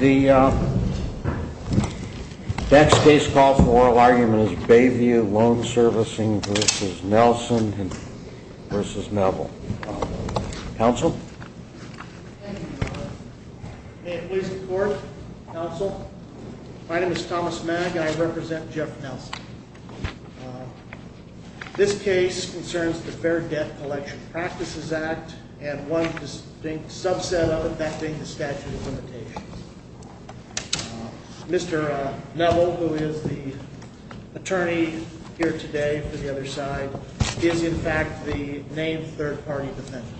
The next case call for oral argument is Bayview Loan Servicing v. Nelson v. Neville. Counsel? Thank you, Your Honor. May it please the Court? Counsel? My name is Thomas Magg and I represent Jeff Nelson. This case concerns the Fair Debt Collection Practices Act and one distinct subset of it, that being the statute of limitations. Mr. Neville, who is the attorney here today for the other side, is in fact the named third-party defendant.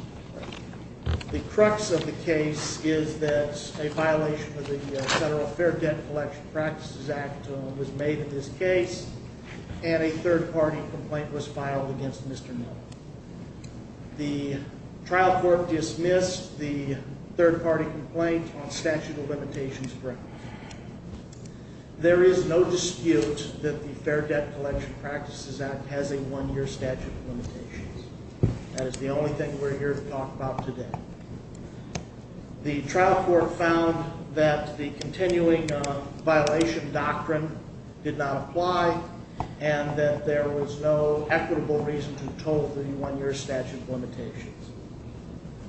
The crux of the case is that a violation of the Federal Fair Debt Collection Practices Act was made in this case and a third-party complaint was filed against Mr. Neville. The trial court dismissed the third-party complaint on statute of limitations grounds. There is no dispute that the Fair Debt Collection Practices Act has a one-year statute of limitations. That is the only thing we're here to talk about today. The trial court found that the continuing violation doctrine did not apply and that there was no equitable reason to withhold the one-year statute of limitations.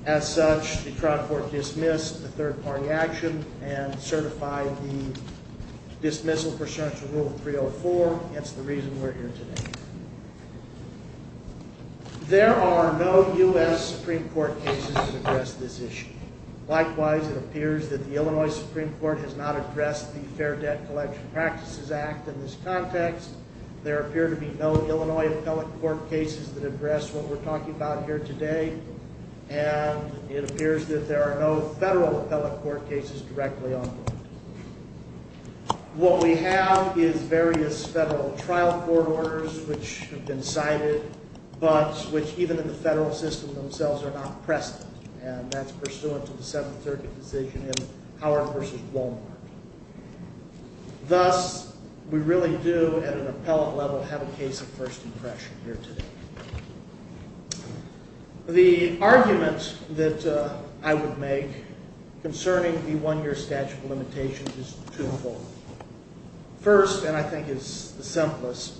As such, the trial court dismissed the third-party action and certified the dismissal pursuant to Rule 304. That's the reason we're here today. There are no U.S. Supreme Court cases that address this issue. Likewise, it appears that the Illinois Supreme Court has not addressed the Fair Debt Collection Practices Act in this context. There appear to be no Illinois appellate court cases that address what we're talking about here today. And it appears that there are no Federal appellate court cases directly on board. What we have is various Federal trial court orders which have been cited but which, even in the Federal system themselves, are not present. And that's pursuant to the Seventh Circuit decision in Howard v. Walmart. Thus, we really do, at an appellate level, have a case of first impression here today. The argument that I would make concerning the one-year statute of limitations is twofold. First, and I think is the simplest,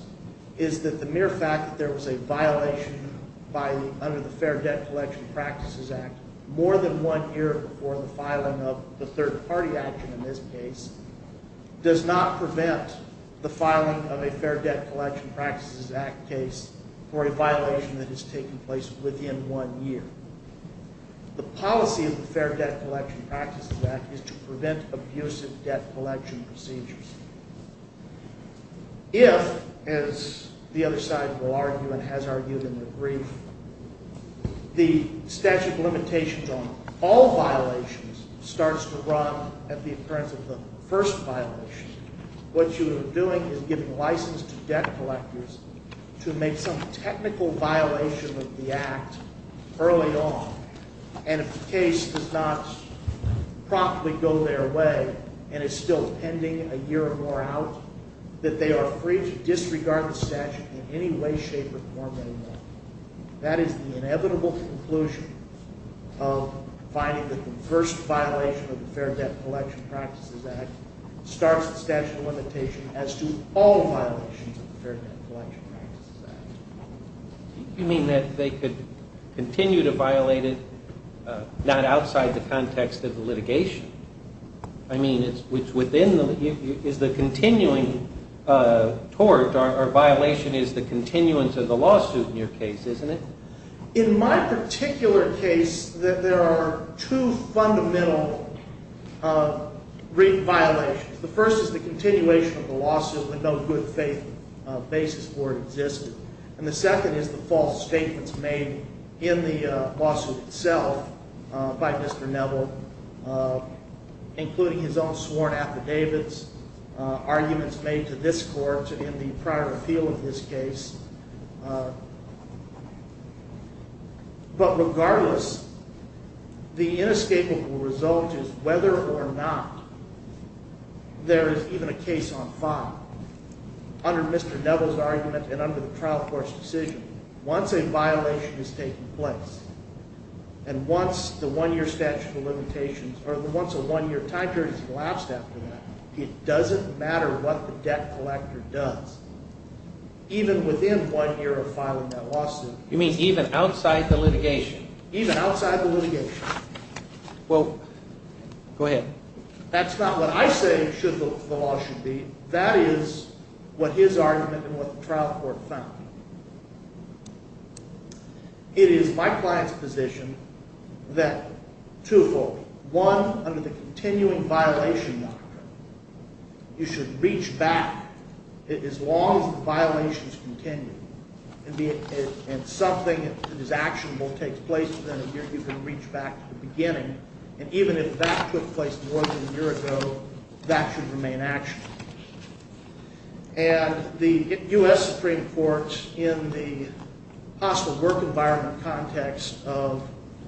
is that the mere fact that there was a violation under the Fair Debt Collection Practices Act more than one year before the filing of the third-party action in this case does not prevent the filing of a Fair Debt Collection Practices Act case for a violation that has taken place within one year. The policy of the Fair Debt Collection Practices Act is to prevent abusive debt collection procedures. If, as the other side will argue and has argued in the brief, the statute of limitations on all violations starts to run at the occurrence of the first violation, what you are doing is giving license to debt collectors to make some technical violation of the Act early on. And if the case does not promptly go their way and is still pending a year or more out, that they are free to disregard the statute in any way, shape, or form they want. That is the inevitable conclusion of finding that the first violation of the Fair Debt Collection Practices Act starts the statute of limitation as to all violations of the Fair Debt Collection Practices Act. You mean that they could continue to violate it not outside the context of the litigation? I mean, is the continuing tort or violation is the continuance of the lawsuit in your case, isn't it? In my particular case, there are two fundamental violations. The first is the continuation of the lawsuit with no good basis for it existing. And the second is the false statements made in the lawsuit itself by Mr. Neville, including his own sworn affidavits, arguments made to this court in the prior appeal of this case. But regardless, the inescapable result is whether or not there is even a case on file. Under Mr. Neville's argument and under the trial court's decision, once a violation is taking place and once the one-year statute of limitations or the once a one-year time period is elapsed after that, it doesn't matter what the debt collector does. Even within one year of filing that lawsuit. You mean even outside the litigation? Even outside the litigation. Well, go ahead. That's not what I say the law should be. That is what his argument and what the trial court found. It is my client's position that twofold. One, under the continuing violation doctrine, you should reach back. As long as the violations continue and something that is actionable takes place within a year, you can reach back to the beginning. And even if that took place more than a year ago, that should remain actionable. And the U.S. Supreme Court, in the possible work environment context of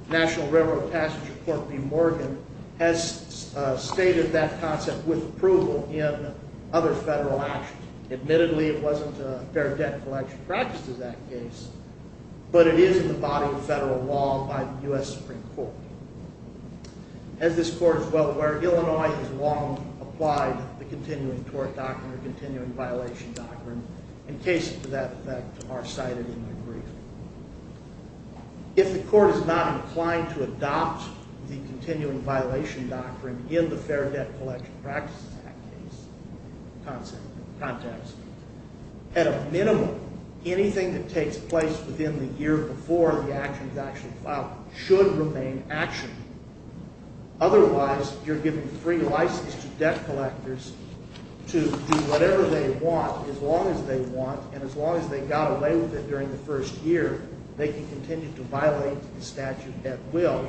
National Railroad Passenger Court v. Morgan, has stated that concept with approval in other federal actions. Admittedly, it wasn't a fair debt collection practice in that case, but it is in the body of federal law by the U.S. Supreme Court. As this court is well aware, Illinois has long applied the continuing tort doctrine or continuing violation doctrine. And cases to that effect are cited in the brief. If the court is not inclined to adopt the continuing violation doctrine in the fair debt collection practice in that case, in that context, at a minimum, anything that takes place within the year before the action is actually filed should remain actionable. Otherwise, you're giving free license to debt collectors to do whatever they want as long as they want and as long as they got away with it during the first year, they can continue to violate the statute at will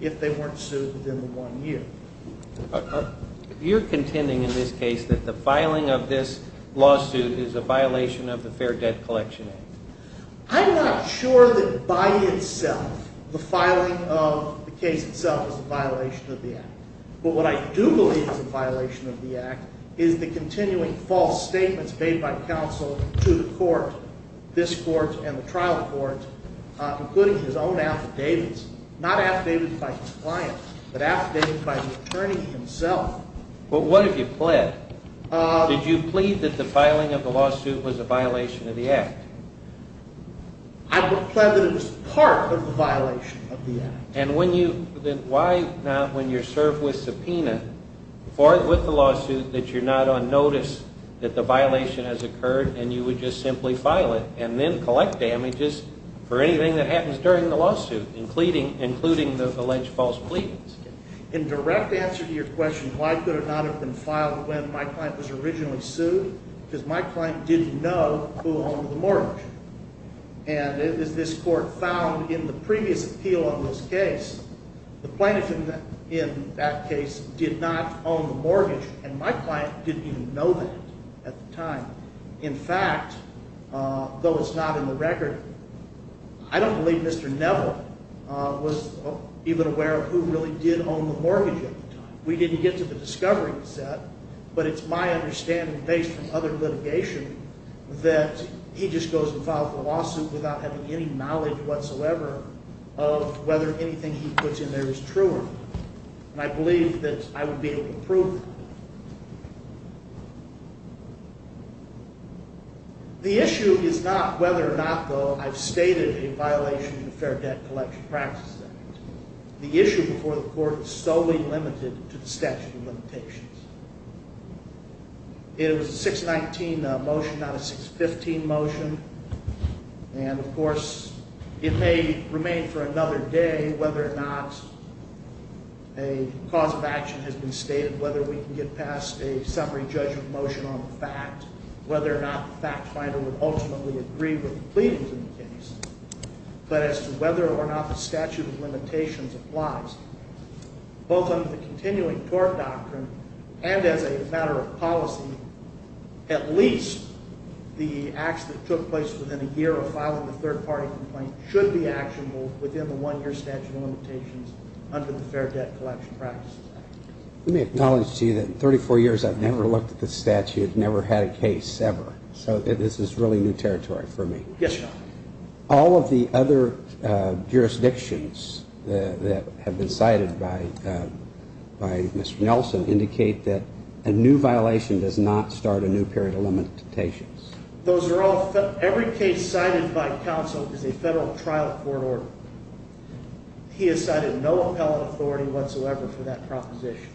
if they weren't sued within the one year. You're contending in this case that the filing of this lawsuit is a violation of the Fair Debt Collection Act. I'm not sure that by itself the filing of the case itself is a violation of the Act. But what I do believe is a violation of the Act is the continuing false statements made by counsel to the court, this court and the trial court, including his own affidavits, not affidavits by his client, but affidavits by the attorney himself. But what have you pled? Did you plead that the filing of the lawsuit was a violation of the Act? I pled that it was part of the violation of the Act. And why not, when you're served with subpoena with the lawsuit, that you're not on notice that the violation has occurred and you would just simply file it and then collect damages for anything that happens during the lawsuit, including the alleged false pleadings? In direct answer to your question, why could it not have been filed when my client was originally sued? Because my client didn't know who owned the mortgage. And as this court found in the previous appeal on this case, the plaintiff in that case did not own the mortgage. And my client didn't even know that at the time. In fact, though it's not in the record, I don't believe Mr. Neville was even aware of who really did own the mortgage at the time. We didn't get to the discovery, he said. But it's my understanding, based on other litigation, that he just goes and files a lawsuit without having any knowledge whatsoever of whether anything he puts in there is true or not. And I believe that I would be able to prove that. The issue is not whether or not, though I've stated, a violation of the Fair Debt Collection Practices Act. The issue before the court is solely limited to the statute of limitations. It was a 619 motion, not a 615 motion. And of course, it may remain for another day whether or not a cause of action has been stated, whether we can get past a summary judgment motion on the fact, whether or not the fact finder would ultimately agree with the pleadings in the case. But as to whether or not the statute of limitations applies, both under the continuing tort doctrine and as a matter of policy, at least the acts that took place within a year of filing the third-party complaint should be actionable within the one-year statute of limitations under the Fair Debt Collection Practices Act. Let me acknowledge to you that in 34 years I've never looked at this statute, never had a case, ever. So this is really new territory for me. Yes, Your Honor. All of the other jurisdictions that have been cited by Mr. Nelson indicate that a new violation does not start a new period of limitations. Every case cited by counsel is a federal trial court order. He has cited no appellate authority whatsoever for that proposition.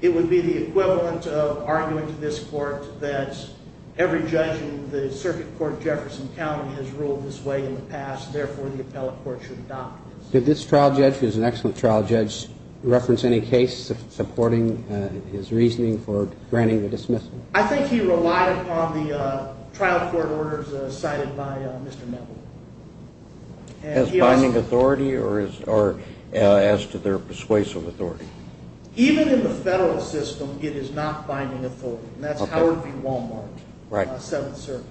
It would be the equivalent of arguing to this court that every judge in the Circuit Court of Jefferson County has ruled this way in the past, therefore the appellate court should adopt this. Did this trial judge, who is an excellent trial judge, reference any case supporting his reasoning for granting the dismissal? I think he relied upon the trial court orders cited by Mr. Nelson. As binding authority or as to their persuasive authority? Even in the federal system, it is not binding authority. That's Howard v. Walmart, Seventh Circuit.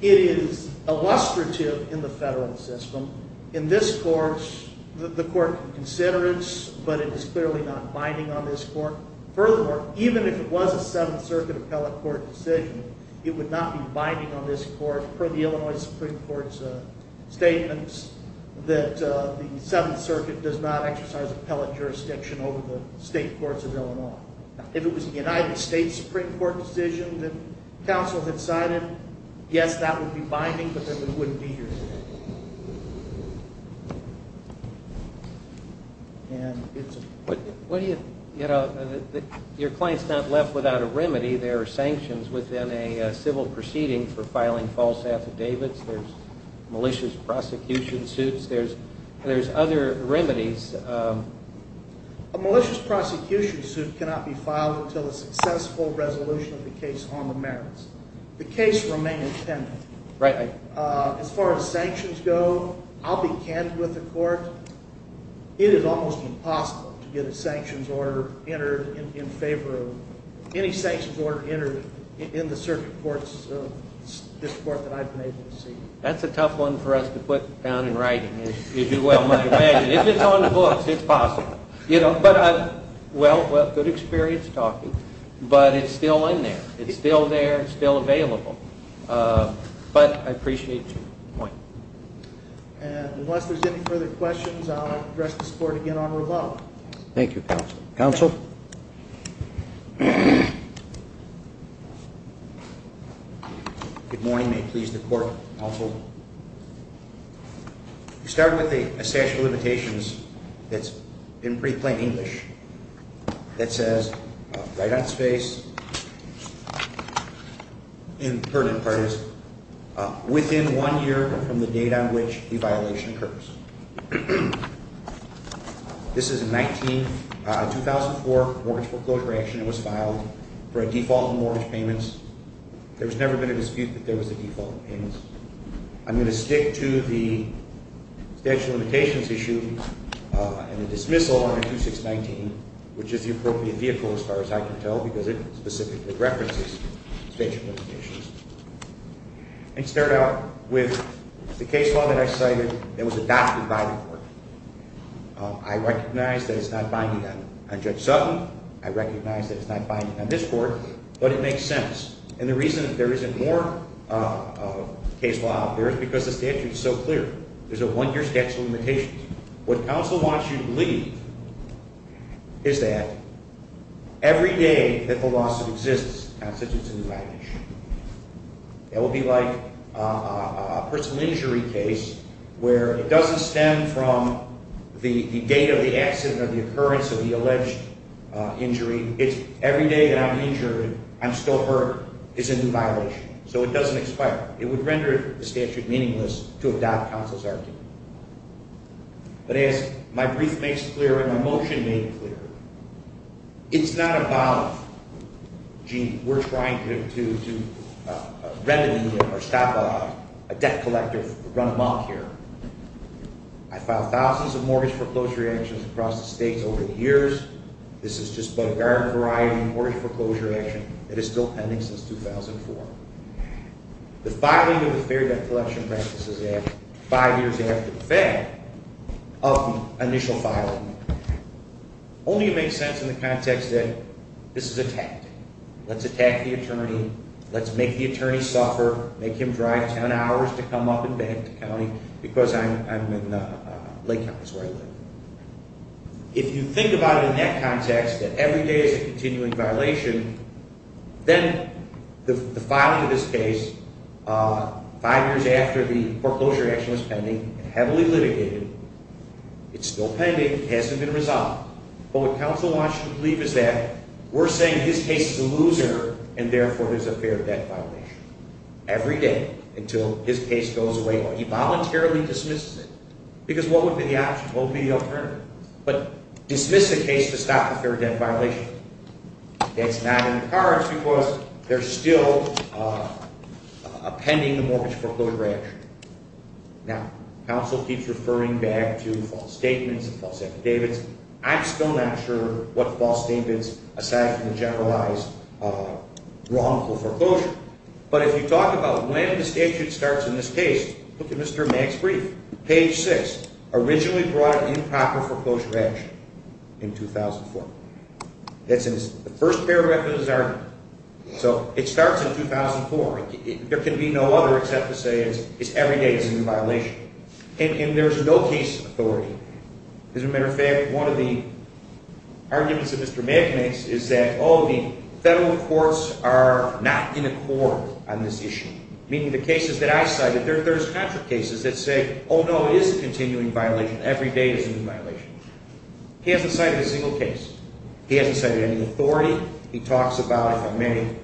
It is illustrative in the federal system. In this court, the court can consider it, but it is clearly not binding on this court. Furthermore, even if it was a Seventh Circuit appellate court decision, it would not be binding on this court, per the Illinois Supreme Court's statements, that the Seventh Circuit does not exercise appellate jurisdiction over the state courts of Illinois. If it was a United States Supreme Court decision that counsel had cited, yes, that would be binding, but then we wouldn't be here today. Your client is not left without a remedy. There are sanctions within a civil proceeding for filing false affidavits. There are malicious prosecution suits. There are other remedies. A malicious prosecution suit cannot be filed until a successful resolution of the case on the merits. The case remains pending. As far as sanctions go, I'll be candid with the court. It is almost impossible to get a sanctions order entered in favor of any sanctions order entered in the circuit courts of this court that I've been able to see. That's a tough one for us to put down in writing, as you well might imagine. If it's on the books, it's possible. Well, good experience talking, but it's still in there. It's still there. It's still available. But I appreciate your point. And unless there's any further questions, I'll address this court again on rebuttal. Thank you, counsel. Counsel? Good morning. May it please the court, counsel. We start with a statute of limitations that's in pretty plain English that says, right on its face, in pertinent parties, within one year from the date on which the violation occurs. This is a 2004 mortgage foreclosure action. It was filed for a default in mortgage payments. There's never been a dispute that there was a default in payments. I'm going to stick to the statute of limitations issue and the dismissal under 2619, which is the appropriate vehicle, as far as I can tell, because it specifically references statute of limitations. I'm going to start out with the case law that I cited that was adopted by the court. I recognize that it's not binding on Judge Sutton. I recognize that it's not binding on this court, but it makes sense. And the reason that there isn't more case law out there is because the statute is so clear. There's a one-year statute of limitations. What counsel wants you to believe is that every day that the loss exists constitutes a new violation. That would be like a personal injury case where it doesn't stem from the date of the accident or the occurrence of the alleged injury. It's every day that I'm injured, I'm still hurt. It's a new violation. So it doesn't expire. It would render the statute meaningless to adopt counsel's argument. But as my brief makes clear and my motion made clear, it's not about, gee, we're trying to remedy or stop a debt collector from running amok here. I filed thousands of mortgage foreclosure actions across the states over the years. This is just a barren variety of mortgage foreclosure action that is still pending since 2004. The filing of the Fair Debt Collection Practices Act, five years after the fact of the initial filing, only makes sense in the context that this is attacked. Let's attack the attorney. Let's make the attorney suffer, make him drive 10 hours to come up and back to county because I'm in Lake County is where I live. If you think about it in that context, that every day is a continuing violation, then the filing of this case five years after the foreclosure action was pending, heavily litigated, it's still pending, hasn't been resolved. But what counsel wants you to believe is that we're saying his case is a loser and therefore there's a fair debt violation every day until his case goes away or he voluntarily dismisses it. Because what would be the option? What would be the alternative? But dismiss the case to stop the fair debt violation. That's not in the cards because they're still pending the mortgage foreclosure action. Now, counsel keeps referring back to false statements, false affidavits. I'm still not sure what false statements, aside from the generalized wrongful foreclosure. But if you talk about when the statute starts in this case, look at Mr. Mack's brief, page 6, originally brought in proper foreclosure action in 2004. That's in his first paragraph of his argument. So it starts in 2004. There can be no other except to say every day is a new violation. And there's no case authority. As a matter of fact, one of the arguments that Mr. Mack makes is that, oh, the federal courts are not in accord on this issue, meaning the cases that I cited, there's contract cases that say, oh, no, it is a continuing violation. Every day is a new violation. He hasn't cited a single case. He hasn't cited any authority. He talks about, if I may,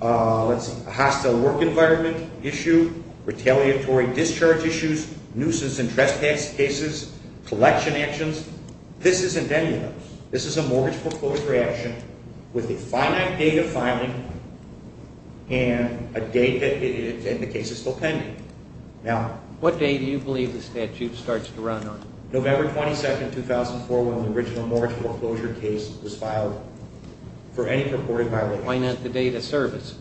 a hostile work environment issue, retaliatory discharge issues, nuisance and trespass cases, collection actions. This isn't any of those. This is a mortgage foreclosure action with a finite date of filing and a date that the case is still pending. What date do you believe the statute starts to run on? November 22, 2004, when the original mortgage foreclosure case was filed for any purported violation. Why not the date of service?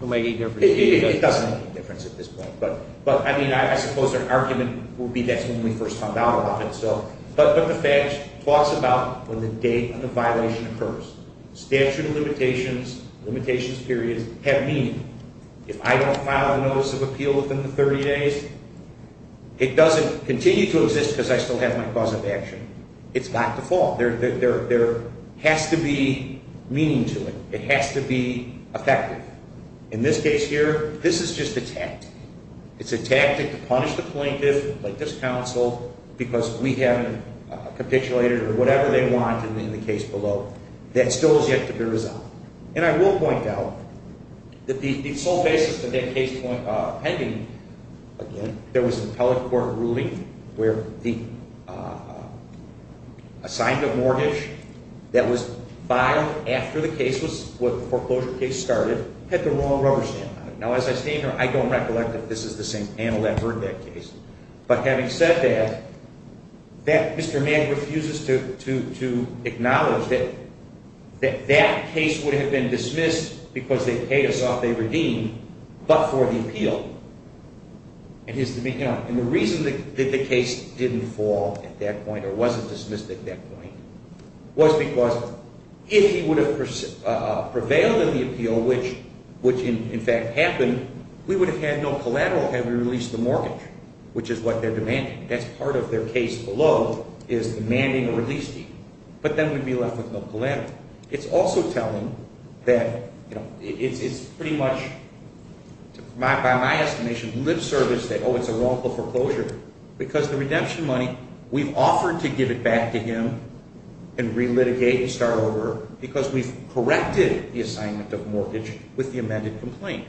It doesn't make any difference at this point. But, I mean, I suppose our argument would be that's when we first found out about it. But the fact talks about when the date of the violation occurs. Statute of limitations, limitations period, have meaning. If I don't file a notice of appeal within the 30 days, it doesn't continue to exist because I still have my cause of action. It's got to fall. There has to be meaning to it. It has to be effective. In this case here, this is just a tactic. It's a tactic to punish the plaintiff, like this counsel, because we haven't capitulated or whatever they want in the case below. That still has yet to be resolved. And I will point out that the sole basis of that case pending, again, there was an appellate court ruling where the assignment of mortgage that was filed after the case was, when the foreclosure case started, had the wrong rubber stamp on it. Now, as I stand here, I don't recollect that this is the same panel that heard that case. But having said that, Mr. Mann refuses to acknowledge that that case would have been dismissed because they paid us off, they redeemed, but for the appeal. And the reason that the case didn't fall at that point or wasn't dismissed at that point was because if he would have prevailed in the appeal, which in fact happened, we would have had no collateral had we released the mortgage, which is what they're demanding. That's part of their case below is demanding a release fee. But then we'd be left with no collateral. It's also telling that it's pretty much, by my estimation, lip service that, oh, it's a wrongful foreclosure, because the redemption money, we've offered to give it back to him and re-litigate and start over because we've corrected the assignment of mortgage with the amended complaint.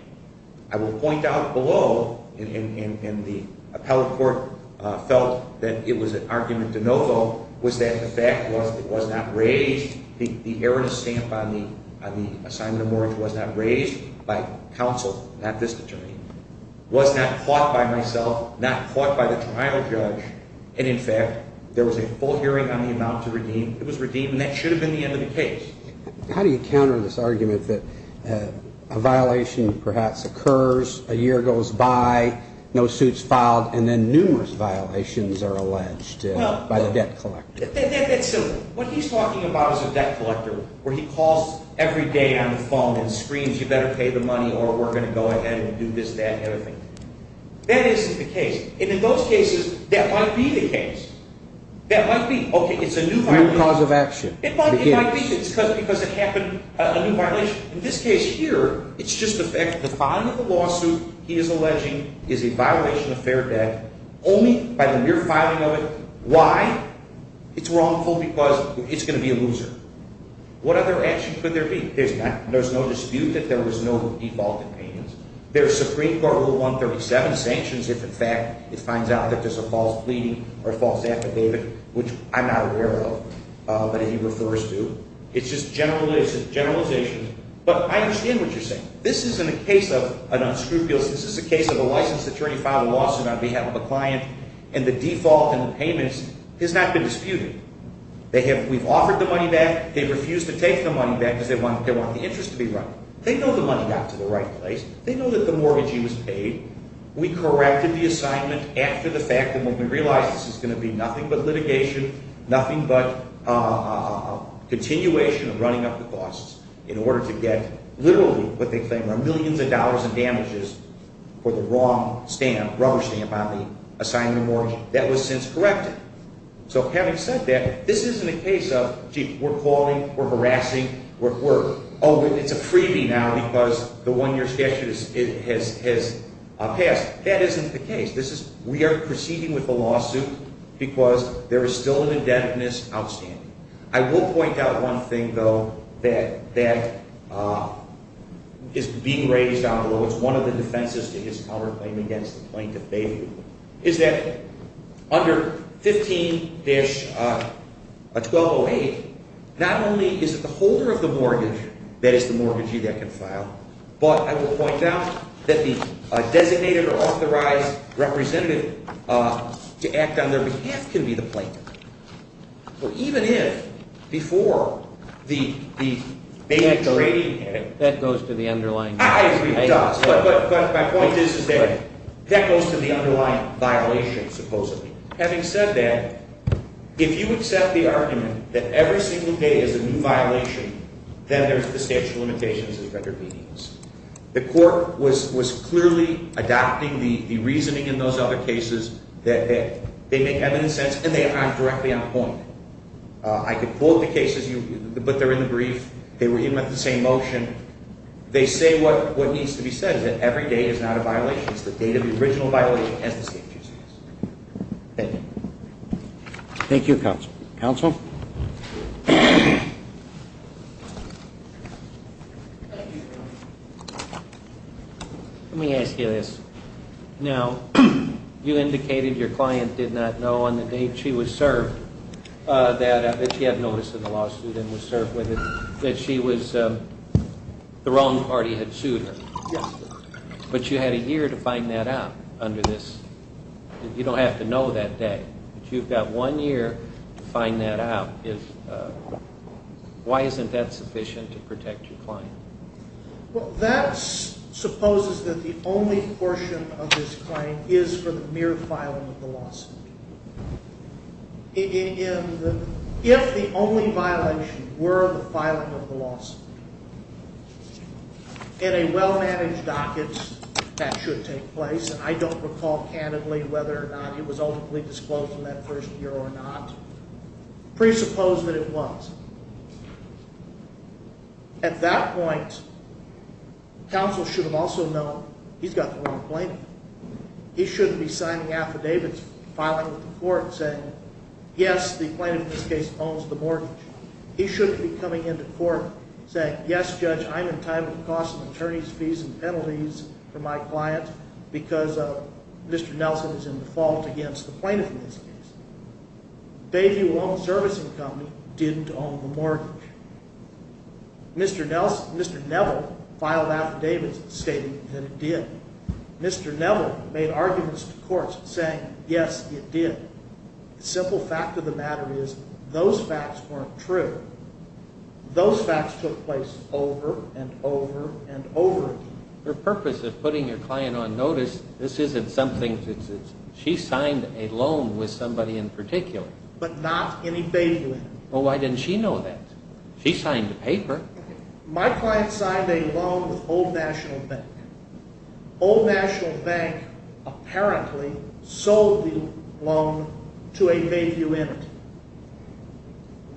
I will point out below, and the appellate court felt that it was an argument de novo, was that the fact was it was not raised, the erroneous stamp on the assignment of mortgage was not raised by counsel, not this attorney, was not caught by myself, not caught by the trial judge, and in fact, there was a full hearing on the amount to redeem. It was redeemed, and that should have been the end of the case. How do you counter this argument that a violation perhaps occurs, a year goes by, no suit's filed, and then numerous violations are alleged by the debt collector? That's simple. What he's talking about is a debt collector where he calls every day on the phone and screams, you better pay the money or we're going to go ahead and do this, that, and the other thing. That isn't the case. And in those cases, that might be the case. That might be, okay, it's a new violation. New cause of action. It might be. It might be because it happened, a new violation. In this case here, it's just the fact that the filing of the lawsuit he is alleging is a violation of fair debt, only by the mere filing of it. Why? It's wrongful because it's going to be a loser. What other action could there be? There's no dispute that there was no default in payments. There's Supreme Court Rule 137 sanctions if, in fact, it finds out that there's a false pleading or a false affidavit, which I'm not aware of, but he refers to. It's just generalization. But I understand what you're saying. This isn't a case of an unscrupulous. This is a case of a licensed attorney filing a lawsuit on behalf of a client, and the default in the payments has not been disputed. We've offered the money back. They've refused to take the money back because they want the interest to be right. They know the money got to the right place. They know that the mortgagee was paid. We corrected the assignment after the fact and when we realized this is going to be nothing but litigation, nothing but a continuation of running up the costs in order to get literally what they claim are millions of dollars in damages for the wrong stamp, rubber stamp, on the assignment mortgage. That was since corrected. So having said that, this isn't a case of, gee, we're calling, we're harassing, we're, oh, it's a freebie now because the one-year statute has passed. That isn't the case. This is, we are proceeding with a lawsuit because there is still an indebtedness outstanding. I will point out one thing, though, that is being raised down below. It's one of the defenses to his counterclaim against the plaintiff, Bayview, is that under 15-1208, not only is it the holder of the mortgage, that is the mortgagee that can file, but I will point out that the designated or authorized representative to act on their behalf can be the plaintiff. Well, even if, before the main trading head. That goes to the underlying. I agree it does. But my point is that that goes to the underlying violation, supposedly. Having said that, if you accept the argument that every single day is a new violation, then there's the statute of limitations as it underpins. The court was clearly adopting the reasoning in those other cases that they make evident sense and they aren't directly on the point. I could quote the cases, but they're in the brief. They were even at the same motion. They say what needs to be said, that every day is not a violation. It's the date of the original violation as the statute says. Thank you. Thank you, Counsel. Counsel? Let me ask you this. Now, you indicated your client did not know on the date she was served that she had notice of the lawsuit and was served with it that she was the wrong party had sued her. Yes, sir. But you had a year to find that out under this. You don't have to know that day. You've got one year to find that out. Why isn't that sufficient to protect your client? Well, that supposes that the only portion of this claim is for the mere filing of the lawsuit. If the only violation were the filing of the lawsuit, in a well-managed docket that should take place, and I don't recall candidly whether or not it was ultimately disclosed in that first year or not, presuppose that it was. At that point, Counsel should have also known he's got the wrong plaintiff. He shouldn't be signing affidavits filing with the court saying, yes, the plaintiff in this case owns the mortgage. He shouldn't be coming into court saying, yes, Judge, I'm entitled to costs and attorneys' fees and penalties for my client because Mr. Nelson is in the fault against the plaintiff in this case. Bayview Home Servicing Company didn't own the mortgage. Mr. Neville filed affidavits stating that it did. Mr. Neville made arguments to courts saying, yes, it did. The simple fact of the matter is those facts weren't true. Those facts took place over and over and over again. Your purpose of putting your client on notice, this isn't something that's his. She signed a loan with somebody in particular. But not any Bayview entity. Well, why didn't she know that? She signed a paper. My client signed a loan with Old National Bank. Old National Bank apparently sold the loan to a Bayview entity.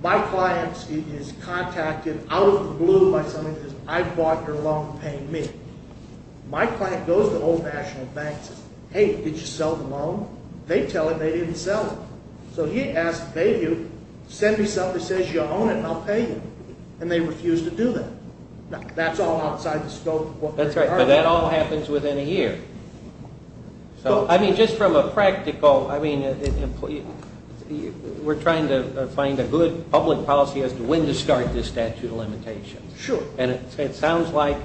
My client is contacted out of the blue by somebody who says, I bought your loan, pay me. My client goes to Old National Bank and says, hey, did you sell the loan? They tell him they didn't sell it. So he asks Bayview, send me something that says you own it and I'll pay you. And they refuse to do that. That's all outside the scope of what they are. That's right, but that all happens within a year. So, I mean, just from a practical, I mean, we're trying to find a good public policy as to when to start this statute of limitations. Sure. And it sounds like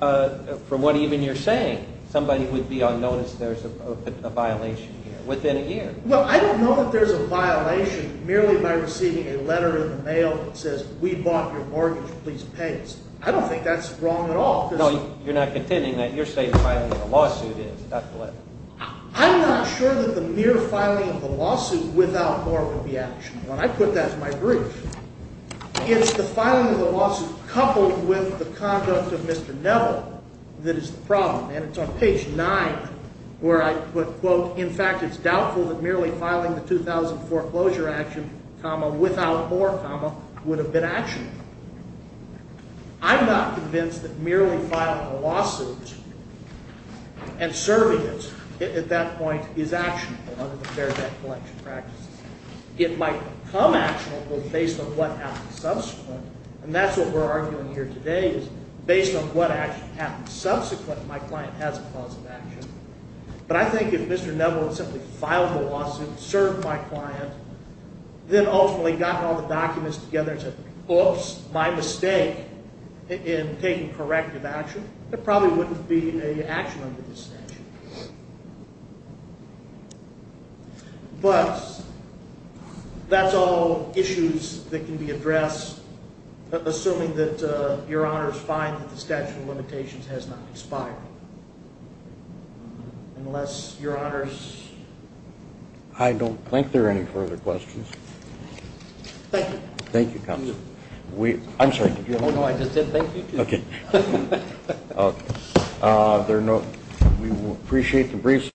from what even you're saying, somebody would be on notice there's a violation here within a year. Well, I don't know that there's a violation merely by receiving a letter in the mail that says we bought your mortgage, please pay us. I don't think that's wrong at all. No, you're not contending that you're saying filing a lawsuit is, Dr. Levin. I'm not sure that the mere filing of the lawsuit without more would be actionable. I put that in my brief. It's the filing of the lawsuit coupled with the conduct of Mr. Neville that is the problem. And it's on page 9 where I put, quote, in fact, it's doubtful that merely filing the 2004 closure action, comma, without more, comma, would have been actionable. I'm not convinced that merely filing a lawsuit and serving it at that point is actionable under the Fair Debt Collection practices. It might become actionable based on what happens subsequent. And that's what we're arguing here today is based on what actually happens subsequent, my client has a cause of action. But I think if Mr. Neville had simply filed the lawsuit, served my client, then ultimately gotten all the documents together and said, oops, my mistake in taking corrective action, there probably wouldn't be any action under this statute. But that's all issues that can be addressed, assuming that Your Honors find that the statute of limitations has not expired. Unless Your Honors? I don't think there are any further questions. Thank you. Thank you, Counselor. I'm sorry, did you have a question? No, I just said thank you. Okay. Okay. There are no, we will appreciate the brief.